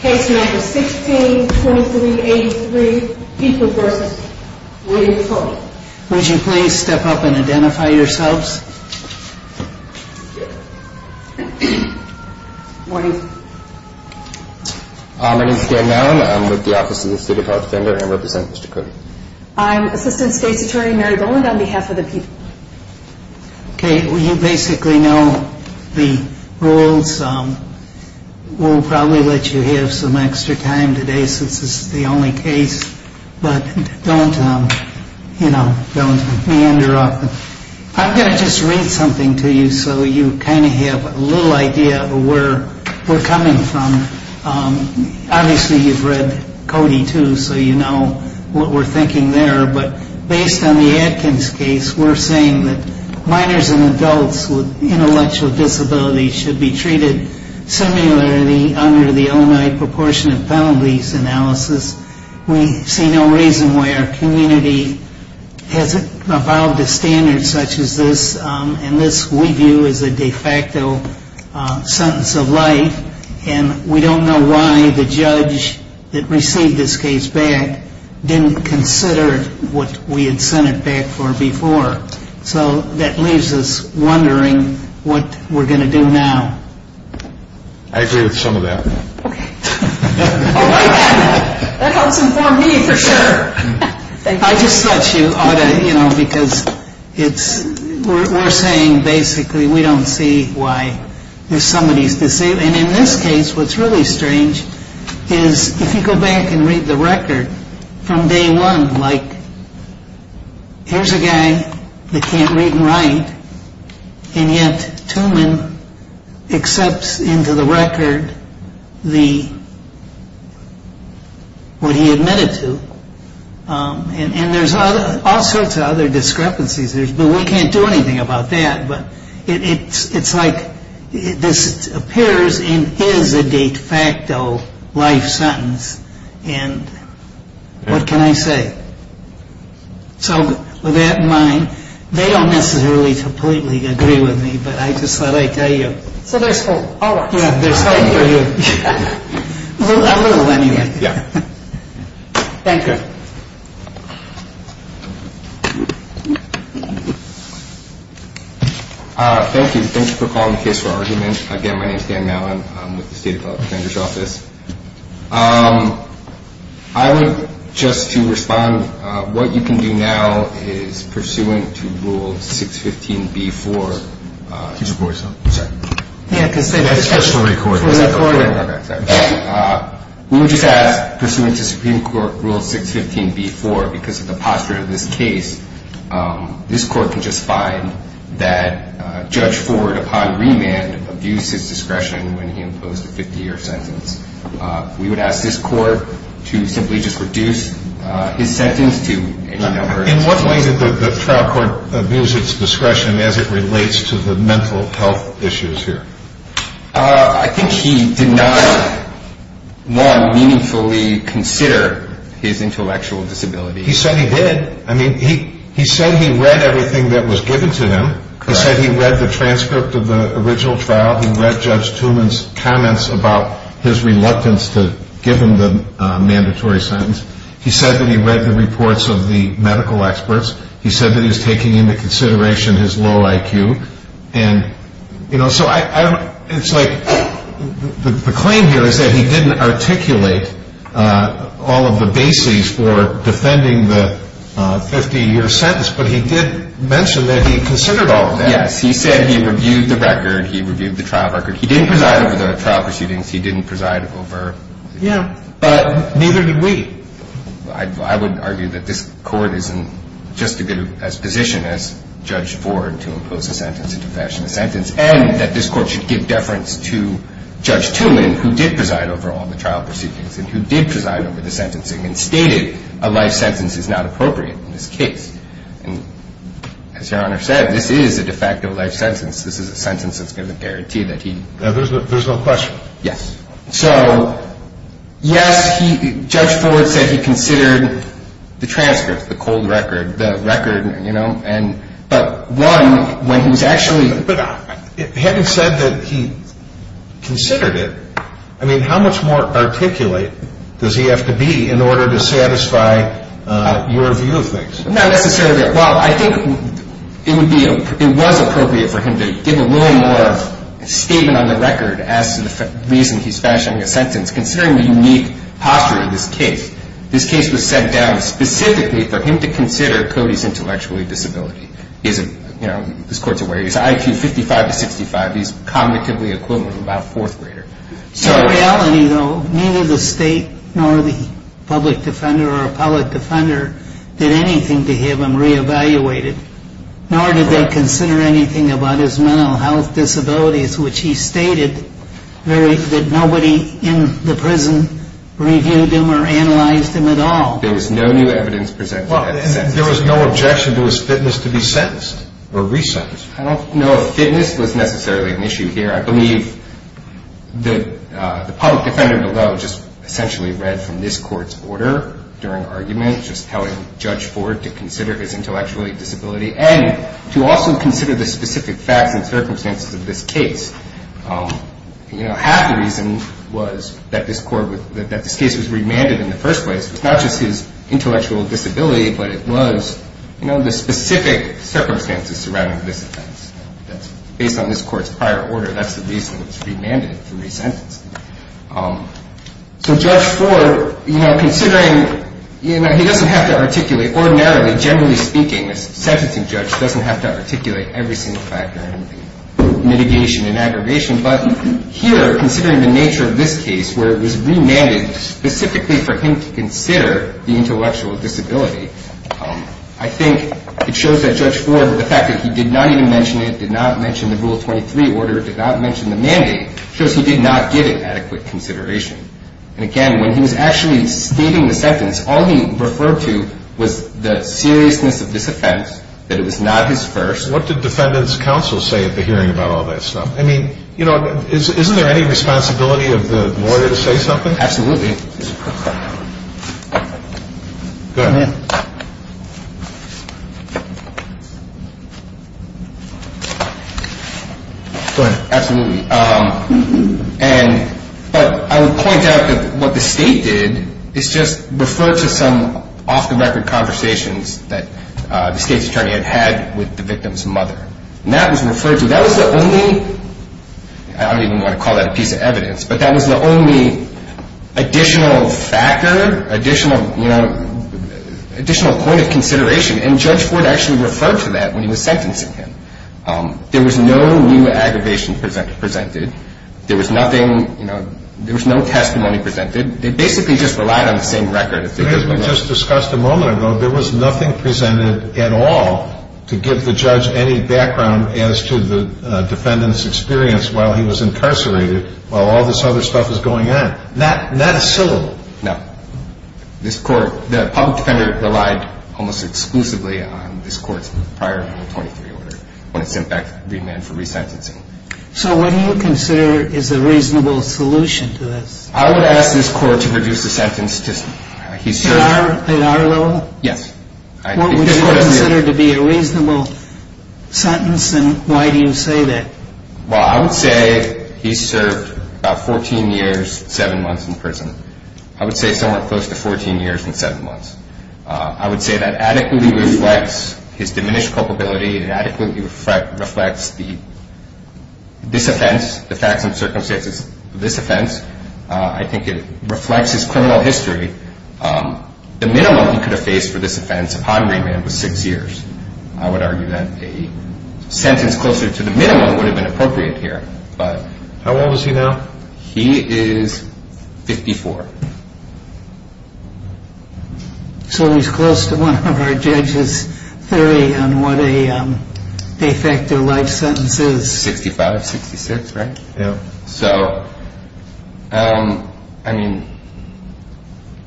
Case No. 16-2383, People v. William Coty. Would you please step up and identify yourselves? Morning. My name is Dan Maron. I'm with the Office of the State of Health Defender and I represent Mr. Coty. I'm Assistant State's Attorney Mary Boland on behalf of the People. You basically know the rules. We'll probably let you have some extra time today since this is the only case, but don't meander off. I'm going to just read something to you so you kind of have a little idea of where we're coming from. Obviously, you've read Coty, too, so you know what we're thinking there. But based on the Atkins case, we're saying that minors and adults with intellectual disabilities should be treated similarly under the Illinois Proportionate Penalties Analysis. We see no reason why our community hasn't evolved to standards such as this. And this, we view as a de facto sentence of life. And we don't know why the judge that received this case back didn't consider what we had sent it back for before. So that leaves us wondering what we're going to do now. I agree with some of that. That helps inform me for sure. I just thought you ought to, you know, because it's we're saying basically we don't see why somebody's disabled. And in this case, what's really strange is if you go back and read the record from day one, like here's a guy that can't read and write. And yet Tooman accepts into the record what he admitted to. And there's all sorts of other discrepancies. But we can't do anything about that. But it's like this appears and is a de facto life sentence. And what can I say? So with that in mind, they don't necessarily completely agree with me. But I just thought I'd tell you. So there's hope. All right. There's hope for you. A little anyway. Yeah. Thank you. Thank you. Thank you for calling the case for argument. Again, my name is Dan Mallon. I'm with the State Appellate Defender's Office. I would just to respond. What you can do now is pursuant to Rule 615B-4. Can you support yourself? I'm sorry. Yeah, I can say that. That's for the court. For the court. Okay. We would just ask pursuant to Supreme Court Rule 615B-4, because of the posture of this case, this court can just find that Judge Ford, upon remand, abused his discretion when he imposed a 50-year sentence. We would ask this court to simply just reduce his sentence to 18 hours. In what way did the trial court abuse its discretion as it relates to the mental health issues here? I think he did not, one, meaningfully consider his intellectual disability. He certainly did. I mean, he said he read everything that was given to him. He said he read the transcript of the original trial. He read Judge Tooman's comments about his reluctance to give him the mandatory sentence. He said that he read the reports of the medical experts. He said that he was taking into consideration his low IQ. And, you know, so I don't – it's like the claim here is that he didn't articulate all of the bases for defending the 50-year sentence, but he did mention that he considered all of that. Yes. He said he reviewed the record. He reviewed the trial record. He didn't preside over the trial proceedings. He didn't preside over – Yeah. But neither did we. I would argue that this Court is in just as good a position as Judge Ford to impose a sentence and to fashion a sentence and that this Court should give deference to Judge Tooman, who did preside over all the trial proceedings and who did preside over the sentencing and stated a life sentence is not appropriate in this case. And as Your Honor said, this is a de facto life sentence. This is a sentence that's going to guarantee that he – There's no question. Yes. So, yes, Judge Ford said he considered the transcript, the cold record, the record, you know, but one, when he was actually – But having said that he considered it, I mean, how much more articulate does he have to be in order to satisfy your view of things? Not necessarily. Well, I think it would be – it was appropriate for him to give a little more statement on the record as to the reason he's fashioning a sentence. Considering the unique posture of this case, this case was set down specifically for him to consider Cody's intellectual disability. You know, this Court's aware he's IQ 55 to 65. He's cognitively equivalent to about a fourth grader. So in reality, though, neither the State nor the public defender or appellate defender did anything to have him re-evaluated, nor did they consider anything about his mental health disabilities, which he stated that nobody in the prison reviewed him or analyzed him at all. There was no new evidence presented. There was no objection to his fitness to be sentenced or re-sentenced. I don't know if fitness was necessarily an issue here. I believe the public defender below just essentially read from this Court's order during argument, just telling Judge Ford to consider his intellectual disability and to also consider the specific facts and circumstances of this case. Half the reason was that this case was remanded in the first place, not just his intellectual disability, but it was the specific circumstances surrounding this offense. That's based on this Court's prior order. That's the reason it was remanded to re-sentence. So Judge Ford, considering he doesn't have to articulate ordinarily, generally speaking, a sentencing judge doesn't have to articulate every single factor, mitigation and aggravation. But here, considering the nature of this case, where it was remanded specifically for him to consider the intellectual disability, I think it shows that Judge Ford, the fact that he did not even mention it, did not mention the Rule 23 order, did not mention the mandate, shows he did not give it adequate consideration. And again, when he was actually stating the sentence, all he referred to was the seriousness of this offense, that it was not his first. What did defendants' counsel say at the hearing about all that stuff? I mean, you know, isn't there any responsibility of the lawyer to say something? Absolutely. Go ahead. Go ahead. Absolutely. But I would point out that what the State did is just refer to some off-the-record conversations that the State's attorney had had with the victim's mother. And that was referred to. That was the only – I don't even want to call that a piece of evidence – but that was the only additional factor, additional point of consideration. And Judge Ford actually referred to that when he was sentencing him. There was no new aggravation presented. There was nothing – you know, there was no testimony presented. They basically just relied on the same record. But as we just discussed a moment ago, there was nothing presented at all to give the judge any background as to the defendant's experience while he was incarcerated, while all this other stuff was going on. Not a syllable. No. This court – the public defender relied almost exclusively on this court's prior Article 23 order when it sent back the agreement for resentencing. So what do you consider is a reasonable solution to this? I would ask this court to reduce the sentence to – he served – At our level? Yes. What would you consider to be a reasonable sentence, and why do you say that? Well, I would say he served about 14 years, 7 months in prison. I would say somewhere close to 14 years and 7 months. I would say that adequately reflects his diminished culpability and adequately reflects this offense, the facts and circumstances of this offense. I think it reflects his criminal history. The minimum he could have faced for this offense upon remand was 6 years. I would argue that a sentence closer to the minimum would have been appropriate here. How old is he now? He is 54. So he's close to one of our judges' theory on what a de facto life sentence is. 65, 66, right? Yeah. So, I mean,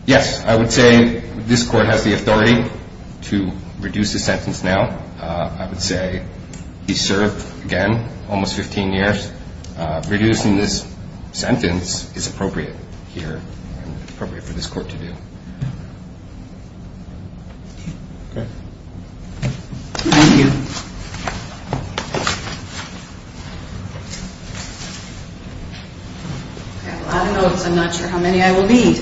yes, I would say this court has the authority to reduce the sentence now. I would say he served, again, almost 15 years. Reducing this sentence is appropriate here and appropriate for this court to do. Okay. Thank you. I have a lot of notes. I'm not sure how many I will need.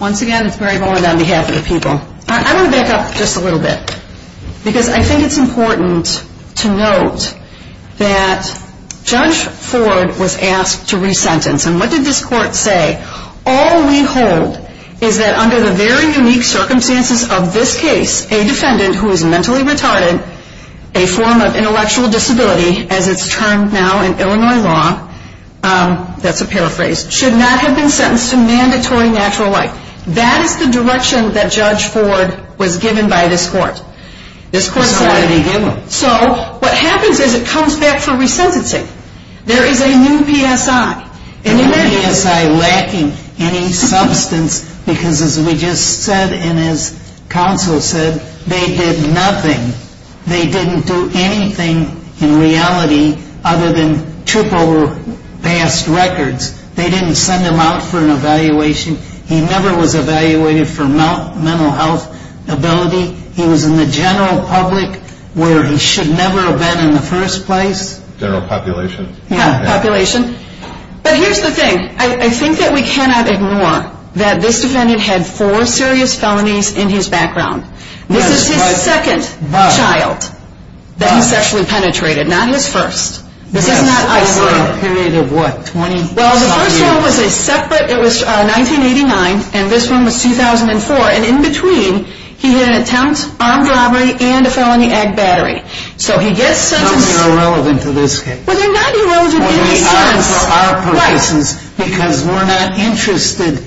Once again, it's Barry Bowen on behalf of the people. I want to back up just a little bit because I think it's important to note that Judge Ford was asked to resentence. And what did this court say? All we hold is that under the very unique circumstances of this case, a defendant who is mentally retarded, a form of intellectual disability, as it's termed now in Illinois law, that's a paraphrase, should not have been sentenced to mandatory natural life. That is the direction that Judge Ford was given by this court. This court decided he didn't. So what happens is it comes back for resentencing. There is a new PSI. A new PSI lacking any substance because, as we just said and as counsel said, they did nothing. They didn't do anything in reality other than trip over past records. They didn't send him out for an evaluation. He never was evaluated for mental health ability. He was in the general public where he should never have been in the first place. General population. But here's the thing. I think that we cannot ignore that this defendant had four serious felonies in his background. This is his second child that he sexually penetrated, not his first. This is not isolated. Yes, over a period of what, 20-something years? Well, the first one was a separate. It was 1989, and this one was 2004. And in between, he had an attempt, armed robbery, and a felony ag battery. So he gets sentenced. Some are irrelevant to this case. Well, they're not irrelevant to this case. Well, they are for our purposes because we're not interested.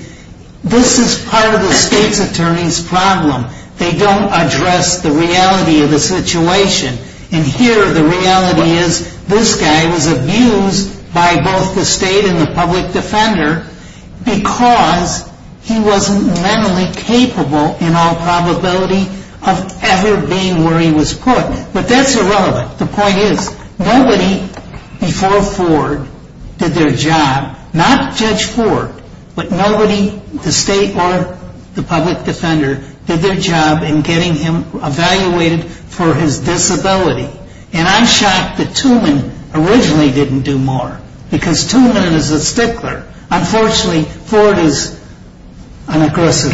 This is part of the state's attorney's problem. They don't address the reality of the situation. And here the reality is this guy was abused by both the state and the public defender because he wasn't mentally capable in all probability of ever being where he was put. But that's irrelevant. The point is, nobody before Ford did their job, not Judge Ford, but nobody, the state or the public defender, did their job in getting him evaluated for his disability. And I'm shocked that Tooman originally didn't do more because Tooman is a stickler. Unfortunately, Ford is an aggressive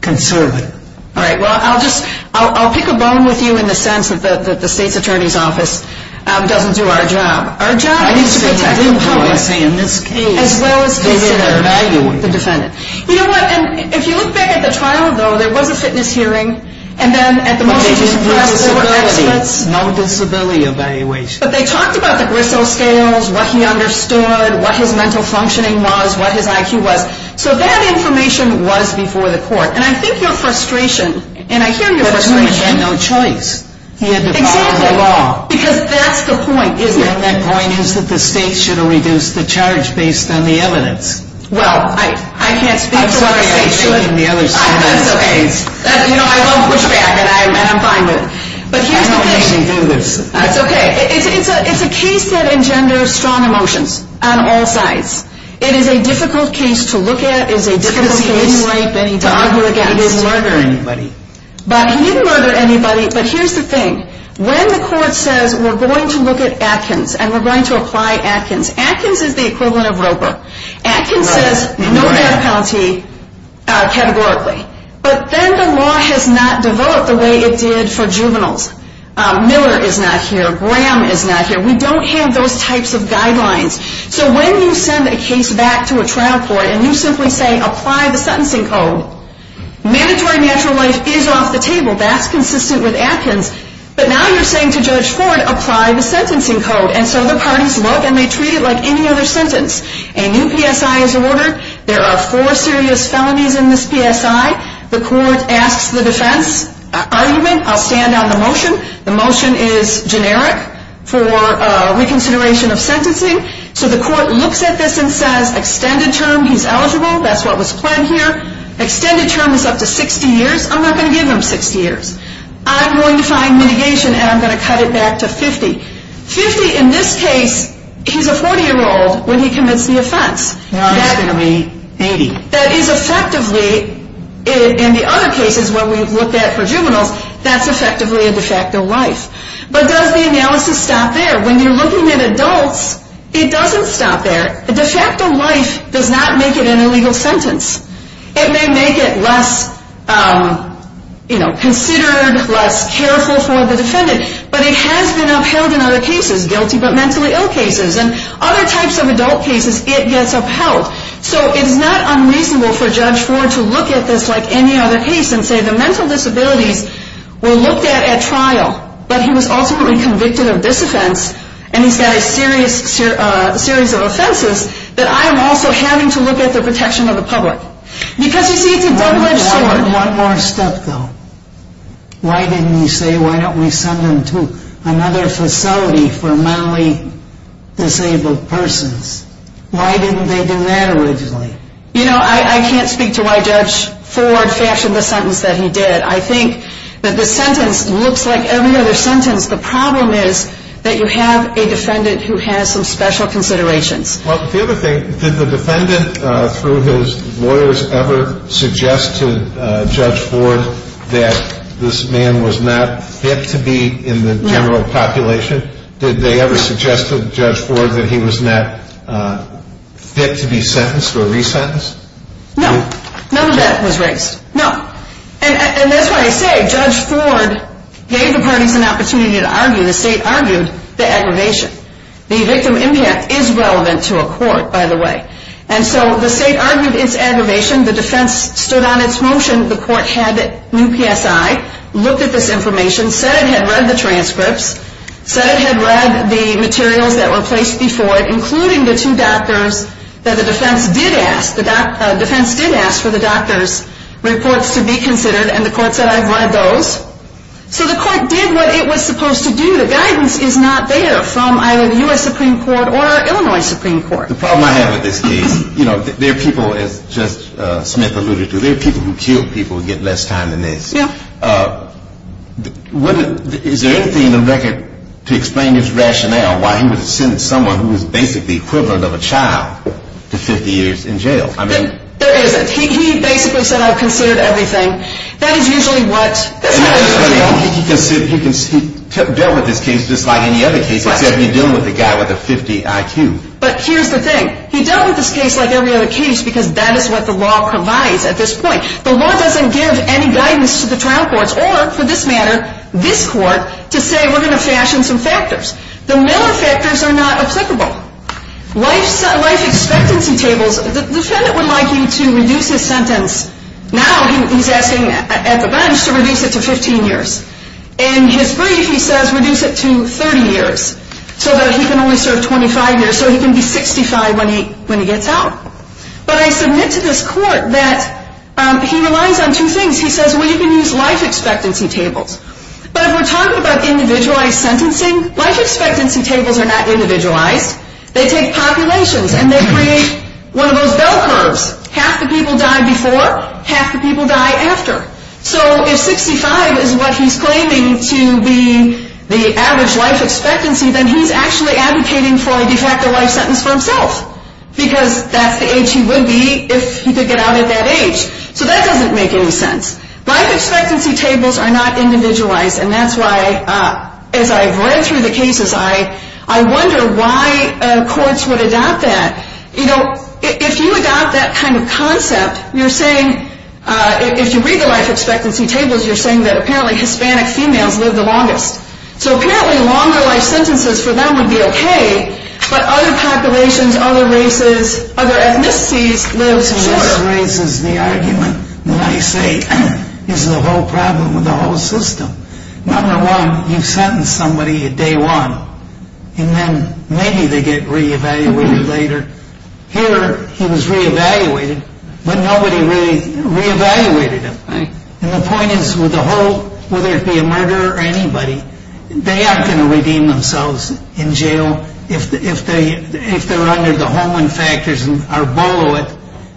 conservative. All right. Well, I'll pick a bone with you in the sense that the state's attorney's office doesn't do our job. Our job is to protect the public as well as the defendant. You know what? If you look back at the trial, though, there was a fitness hearing, and then at the most recent press there were experts. No disability evaluation. But they talked about the gristle scales, what he understood, what his mental functioning was, what his IQ was. So that information was before the court. And I think your frustration, and I hear your frustration. But Tooman had no choice. He had to follow the law. Exactly. Because that's the point, isn't it? And that point is that the state should have reduced the charge based on the evidence. Well, I can't speak for what the state should have. I'm sorry. I was thinking the other side of the case. That's okay. You know, I love pushback, and I'm fine with it. But here's the thing. I don't usually do this. That's okay. It's a case that engenders strong emotions on all sides. It is a difficult case to look at. It is a difficult case to argue against. Because he didn't rape anybody. He didn't murder anybody. He didn't murder anybody. But here's the thing. When the court says, we're going to look at Atkins, and we're going to apply Atkins. Atkins is the equivalent of Roper. Atkins says no death penalty categorically. But then the law has not developed the way it did for juveniles. Miller is not here. Graham is not here. We don't have those types of guidelines. So when you send a case back to a trial court and you simply say, apply the sentencing code, mandatory natural life is off the table. That's consistent with Atkins. But now you're saying to Judge Ford, apply the sentencing code. And so the parties look, and they treat it like any other sentence. A new PSI is ordered. There are four serious felonies in this PSI. The court asks the defense argument. I'll stand on the motion. The motion is generic for reconsideration of sentencing. So the court looks at this and says extended term, he's eligible. That's what was planned here. Extended term is up to 60 years. I'm not going to give him 60 years. I'm going to find mitigation, and I'm going to cut it back to 50. Fifty, in this case, he's a 40-year-old when he commits the offense. Now it's going to be 80. That is effectively, in the other cases where we've looked at for juveniles, that's effectively a de facto life. But does the analysis stop there? When you're looking at adults, it doesn't stop there. A de facto life does not make it an illegal sentence. It may make it less, you know, considered, less careful for the defendant. But it has been upheld in other cases, guilty but mentally ill cases. In other types of adult cases, it gets upheld. So it's not unreasonable for Judge Ford to look at this like any other case and say the mental disabilities were looked at at trial, but he was ultimately convicted of this offense, and he's got a series of offenses that I am also having to look at the protection of the public. Because, you see, it's a double-edged sword. One more step, though. Why didn't he say, why don't we send them to another facility for mentally disabled persons? Why didn't they do that originally? You know, I can't speak to why Judge Ford fashioned the sentence that he did. I think that the sentence looks like every other sentence. The problem is that you have a defendant who has some special considerations. Well, the other thing, did the defendant, through his lawyers, ever suggest to Judge Ford that this man was not fit to be in the general population? Did they ever suggest to Judge Ford that he was not fit to be sentenced or resentenced? No. None of that was raised. No. And that's why I say Judge Ford gave the parties an opportunity to argue. The state argued the aggravation. The victim impact is relevant to a court, by the way. And so the state argued its aggravation. The defense stood on its motion. The court had new PSI, looked at this information, said it had read the transcripts, said it had read the materials that were placed before it, including the two doctors that the defense did ask for the doctor's reports to be considered, and the court said, I've read those. So the court did what it was supposed to do. The guidance is not there from either the U.S. Supreme Court or Illinois Supreme Court. The problem I have with this case, you know, there are people, as Judge Smith alluded to, there are people who kill people and get less time than this. Yeah. Is there anything in the record to explain his rationale why he would have sent someone who was basically the equivalent of a child to 50 years in jail? There isn't. He basically said, I've considered everything. That is usually what this guy does. He dealt with this case just like any other case, except you're dealing with a guy with a 50 IQ. But here's the thing. He dealt with this case like every other case because that is what the law provides at this point. The law doesn't give any guidance to the trial courts or, for this matter, this court, to say we're going to fashion some factors. The Miller factors are not applicable. Life expectancy tables, the defendant would like you to reduce his sentence. Now he's asking at the bench to reduce it to 15 years. In his brief, he says reduce it to 30 years so that he can only serve 25 years, so he can be 65 when he gets out. But I submit to this court that he relies on two things. He says, well, you can use life expectancy tables. But if we're talking about individualized sentencing, life expectancy tables are not individualized. They take populations and they create one of those bell curves. Half the people die before, half the people die after. So if 65 is what he's claiming to be the average life expectancy, then he's actually advocating for a de facto life sentence for himself because that's the age he would be if he could get out at that age. So that doesn't make any sense. Life expectancy tables are not individualized, and that's why, as I've read through the cases, I wonder why courts would adopt that. You know, if you adopt that kind of concept, you're saying, if you read the life expectancy tables, you're saying that apparently Hispanic females live the longest. So apparently longer life sentences for them would be okay, but other populations, other races, other ethnicities live shorter. This raises the argument that I say is the whole problem with the whole system. Number one, you sentence somebody at day one, and then maybe they get re-evaluated later. Here, he was re-evaluated, but nobody really re-evaluated him. And the point is, with the whole, whether it be a murderer or anybody, they aren't going to redeem themselves in jail if they're under the Holman factors and are below it.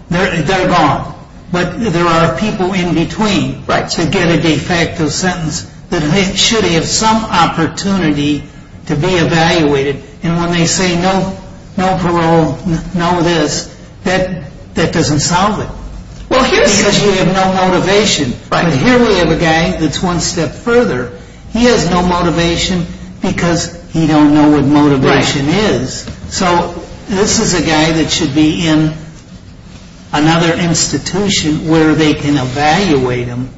They're gone. But there are people in between who get a de facto sentence that should have some opportunity to be evaluated, and when they say no parole, no this, that doesn't solve it. Because you have no motivation. But here we have a guy that's one step further. He has no motivation because he don't know what motivation is. So this is a guy that should be in another institution where they can evaluate him.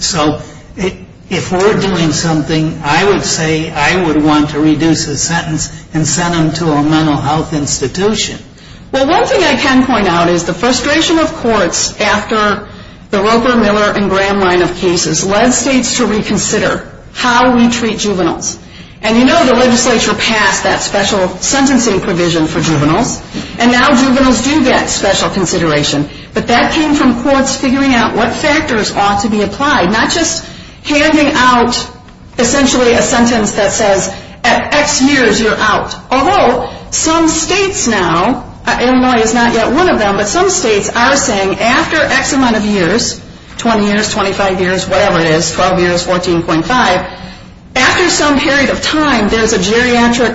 So if we're doing something, I would say I would want to reduce his sentence and send him to a mental health institution. Well, one thing I can point out is the frustration of courts after the Roper, Miller, and Graham line of cases led states to reconsider how we treat juveniles. And you know the legislature passed that special sentencing provision for juveniles, and now juveniles do get special consideration. But that came from courts figuring out what factors ought to be applied, not just handing out essentially a sentence that says at X years you're out. Although some states now, Illinois is not yet one of them, but some states are saying after X amount of years, 20 years, 25 years, whatever it is, 12 years, 14.5, after some period of time there's a geriatric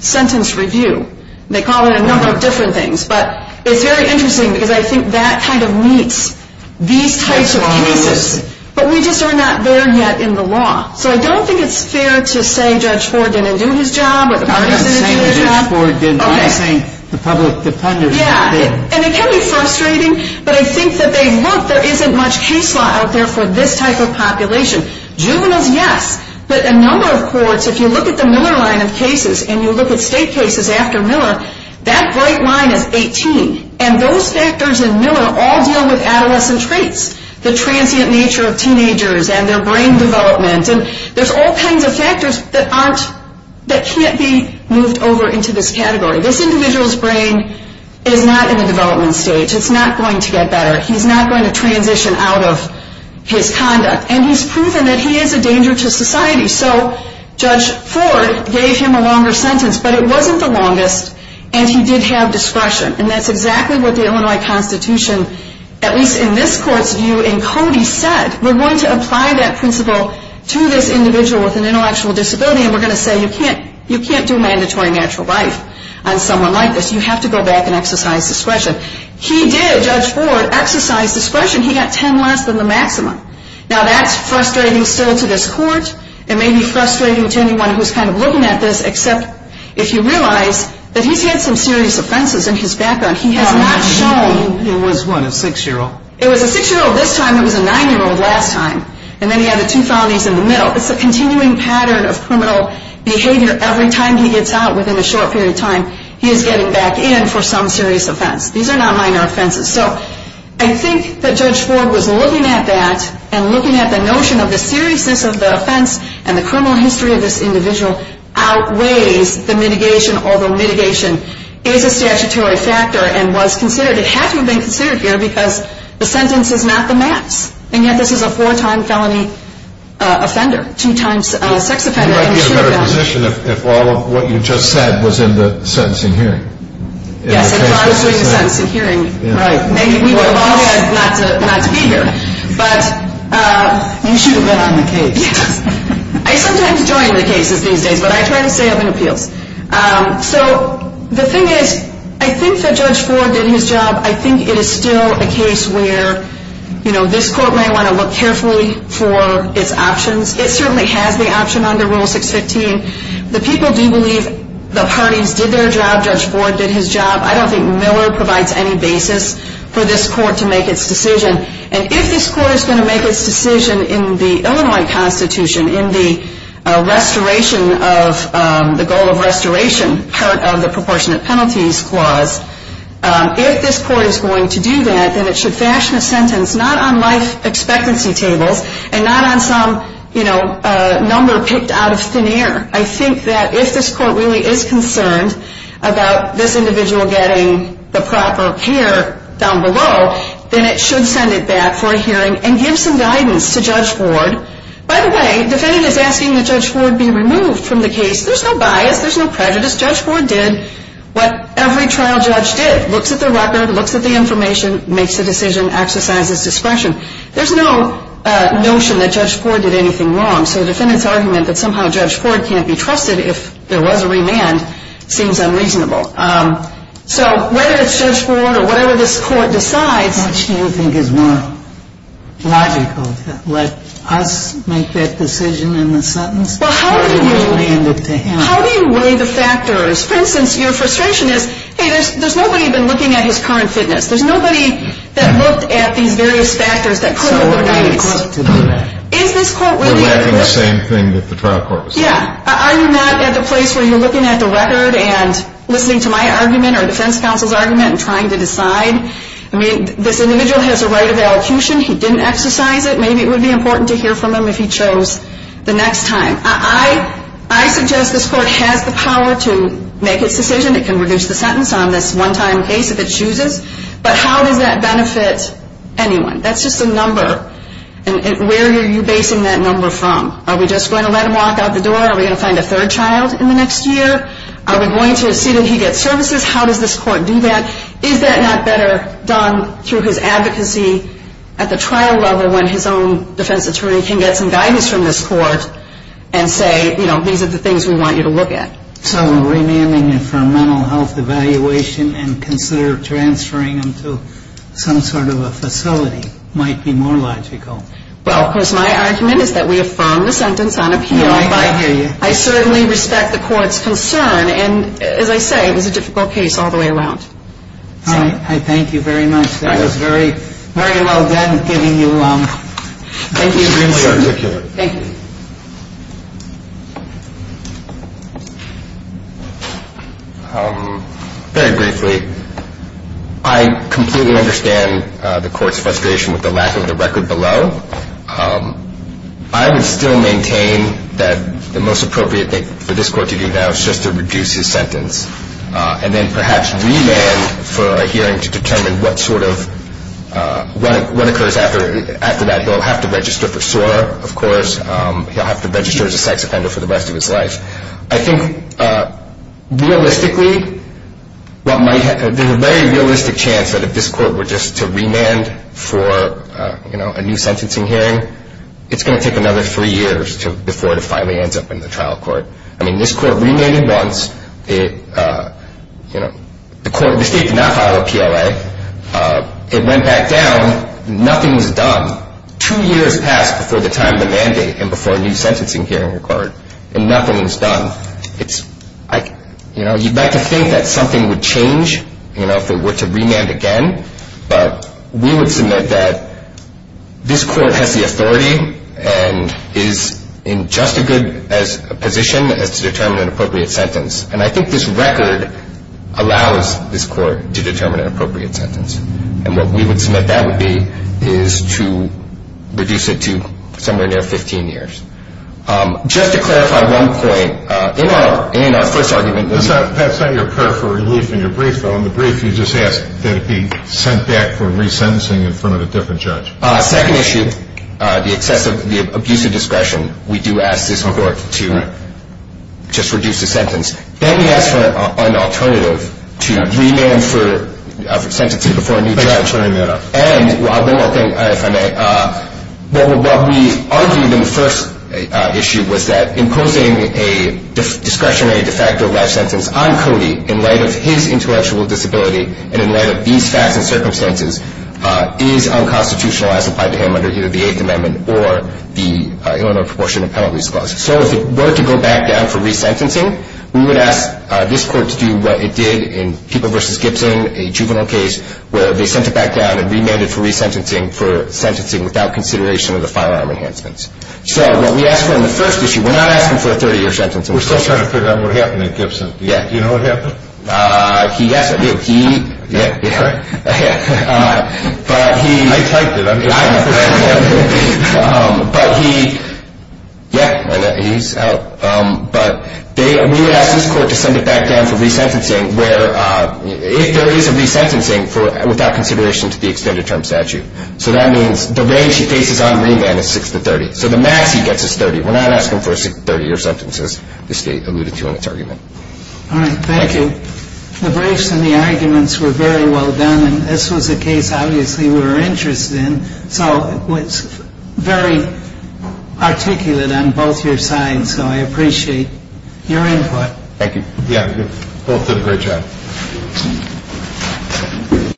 sentence review. They call it a number of different things. But it's very interesting because I think that kind of meets these types of cases. But we just are not there yet in the law. So I don't think it's fair to say Judge Ford didn't do his job or the parties didn't do their job. I'm not saying Judge Ford didn't. I'm saying the public defenders didn't. And it can be frustrating, but I think that they look, there isn't much case law out there for this type of population. Juveniles, yes, but a number of courts, if you look at the Miller line of cases and you look at state cases after Miller, that bright line is 18. And those factors in Miller all deal with adolescent traits, the transient nature of teenagers and their brain development. And there's all kinds of factors that aren't, that can't be moved over into this category. This individual's brain is not in the development stage. It's not going to get better. He's not going to transition out of his conduct. And he's proven that he is a danger to society. So Judge Ford gave him a longer sentence, but it wasn't the longest, and he did have discretion. And that's exactly what the Illinois Constitution, at least in this court's view, and Cody said, we're going to apply that principle to this individual with an intellectual disability, and we're going to say you can't do mandatory natural life on someone like this. You have to go back and exercise discretion. He did, Judge Ford, exercise discretion. He got 10 less than the maximum. Now, that's frustrating still to this court. It may be frustrating to anyone who's kind of looking at this, except if you realize that he's had some serious offenses in his background. He has not shown. He was, what, a 6-year-old? It was a 6-year-old this time. It was a 9-year-old last time. And then he had the two fountains in the middle. It's a continuing pattern of criminal behavior. Every time he gets out within a short period of time, he is getting back in for some serious offense. These are not minor offenses. So I think that Judge Ford was looking at that and looking at the notion of the seriousness of the offense and the criminal history of this individual outweighs the mitigation, although mitigation is a statutory factor and was considered. It had to have been considered here because the sentence is not the max, and yet this is a four-time felony offender, two-time sex offender. He might be in a better position if all of what you just said was in the sentencing hearing. Yes, if I was doing the sentencing hearing, right. We would have all had not to be here. You should have been on the case. I sometimes join the cases these days, but I try to stay up in appeals. So the thing is, I think that Judge Ford did his job. I think it is still a case where this court may want to look carefully for its options. It certainly has the option under Rule 615. The people do believe the parties did their job. Judge Ford did his job. I don't think Miller provides any basis for this court to make its decision. And if this court is going to make its decision in the Illinois Constitution, in the goal of restoration part of the proportionate penalties clause, if this court is going to do that, then it should fashion a sentence not on life expectancy tables and not on some number picked out of thin air. I think that if this court really is concerned about this individual getting the proper care down below, then it should send it back for a hearing and give some guidance to Judge Ford. By the way, the defendant is asking that Judge Ford be removed from the case. There's no bias. There's no prejudice. Judge Ford did what every trial judge did, looks at the record, looks at the information, makes a decision, exercises discretion. There's no notion that Judge Ford did anything wrong. So the defendant's argument that somehow Judge Ford can't be trusted if there was a remand seems unreasonable. So whether it's Judge Ford or whatever this court decides... Which do you think is more logical? Let us make that decision in the sentence or do we demand it to him? How do you weigh the factors? For instance, your frustration is, hey, there's nobody been looking at his current fitness. There's nobody that looked at these various factors that put him over 90. So we're letting the court do that. Is this court really... We're letting the same thing that the trial court was doing. Yeah. Are you not at the place where you're looking at the record and listening to my argument or defense counsel's argument and trying to decide? I mean, this individual has a right of elocution. He didn't exercise it. Maybe it would be important to hear from him if he chose the next time. I suggest this court has the power to make its decision. It can reduce the sentence on this one-time case if it chooses. But how does that benefit anyone? That's just a number. And where are you basing that number from? Are we just going to let him walk out the door? Are we going to find a third child in the next year? Are we going to see that he gets services? How does this court do that? Is that not better done through his advocacy at the trial level when his own defense attorney can get some guidance from this court and say, you know, these are the things we want you to look at? So remanding him for a mental health evaluation and consider transferring him to some sort of a facility might be more logical. Well, of course, my argument is that we affirm the sentence on appeal. I hear you. I certainly respect the court's concern. And as I say, it was a difficult case all the way around. All right. I thank you very much. That was very, very well done in giving you, thank you. Extremely articulate. Thank you. Very briefly, I completely understand the court's frustration with the lack of the record below. I would still maintain that the most appropriate thing for this court to do now is just to reduce his sentence and then perhaps remand for a hearing to determine what sort of, what occurs after that. He'll have to register for SOAR, of course. He'll have to register as a sex offender for the rest of his life. I think realistically, there's a very realistic chance that if this court were just to remand for a new sentencing hearing, it's going to take another three years before it finally ends up in the trial court. I mean, this court remanded once. The state did not file a PLA. It went back down. Nothing was done. Two years passed before the time of the mandate and before a new sentencing hearing occurred, and nothing was done. You'd like to think that something would change if it were to remand again, but we would submit that this court has the authority and is in just as good a position as to determine an appropriate sentence. And I think this record allows this court to determine an appropriate sentence. And what we would submit that would be is to reduce it to somewhere near 15 years. Just to clarify one point, in our first argument. That's not your prayer for relief in your brief, though. In the brief, you just ask that it be sent back for resentencing in front of a different judge. Second issue, the abuse of discretion. We do ask this court to just reduce the sentence. Then we ask for an alternative to remand for sentencing before a new judge. And one more thing, if I may. What we argued in the first issue was that imposing a discretionary de facto life sentence on Cody in light of his intellectual disability and in light of these facts and circumstances is unconstitutional as applied to him under either the Eighth Amendment or the Illinois Proportionate Penalties Clause. So if it were to go back down for resentencing, we would ask this court to do what it did in People v. Gibson, a juvenile case, where they sent it back down and remanded for resentencing for sentencing without consideration of the firearm enhancements. So what we asked for in the first issue, we're not asking for a 30-year sentence in this case. We're still trying to figure out what happened in Gibson. Do you know what happened? Yes, I do. Okay. I typed it. I know. But he, yeah, he's out. But we would ask this court to send it back down for resentencing if there is a resentencing without consideration to the extended term statute. So that means the range he faces on remand is 6 to 30. So the max he gets is 30. We're not asking for a 30-year sentence, as the State alluded to in its argument. All right. Thank you. The briefs and the arguments were very well done, and this was a case obviously we were interested in. So it was very articulate on both your sides, so I appreciate your input. Thank you. Yeah, both did a great job.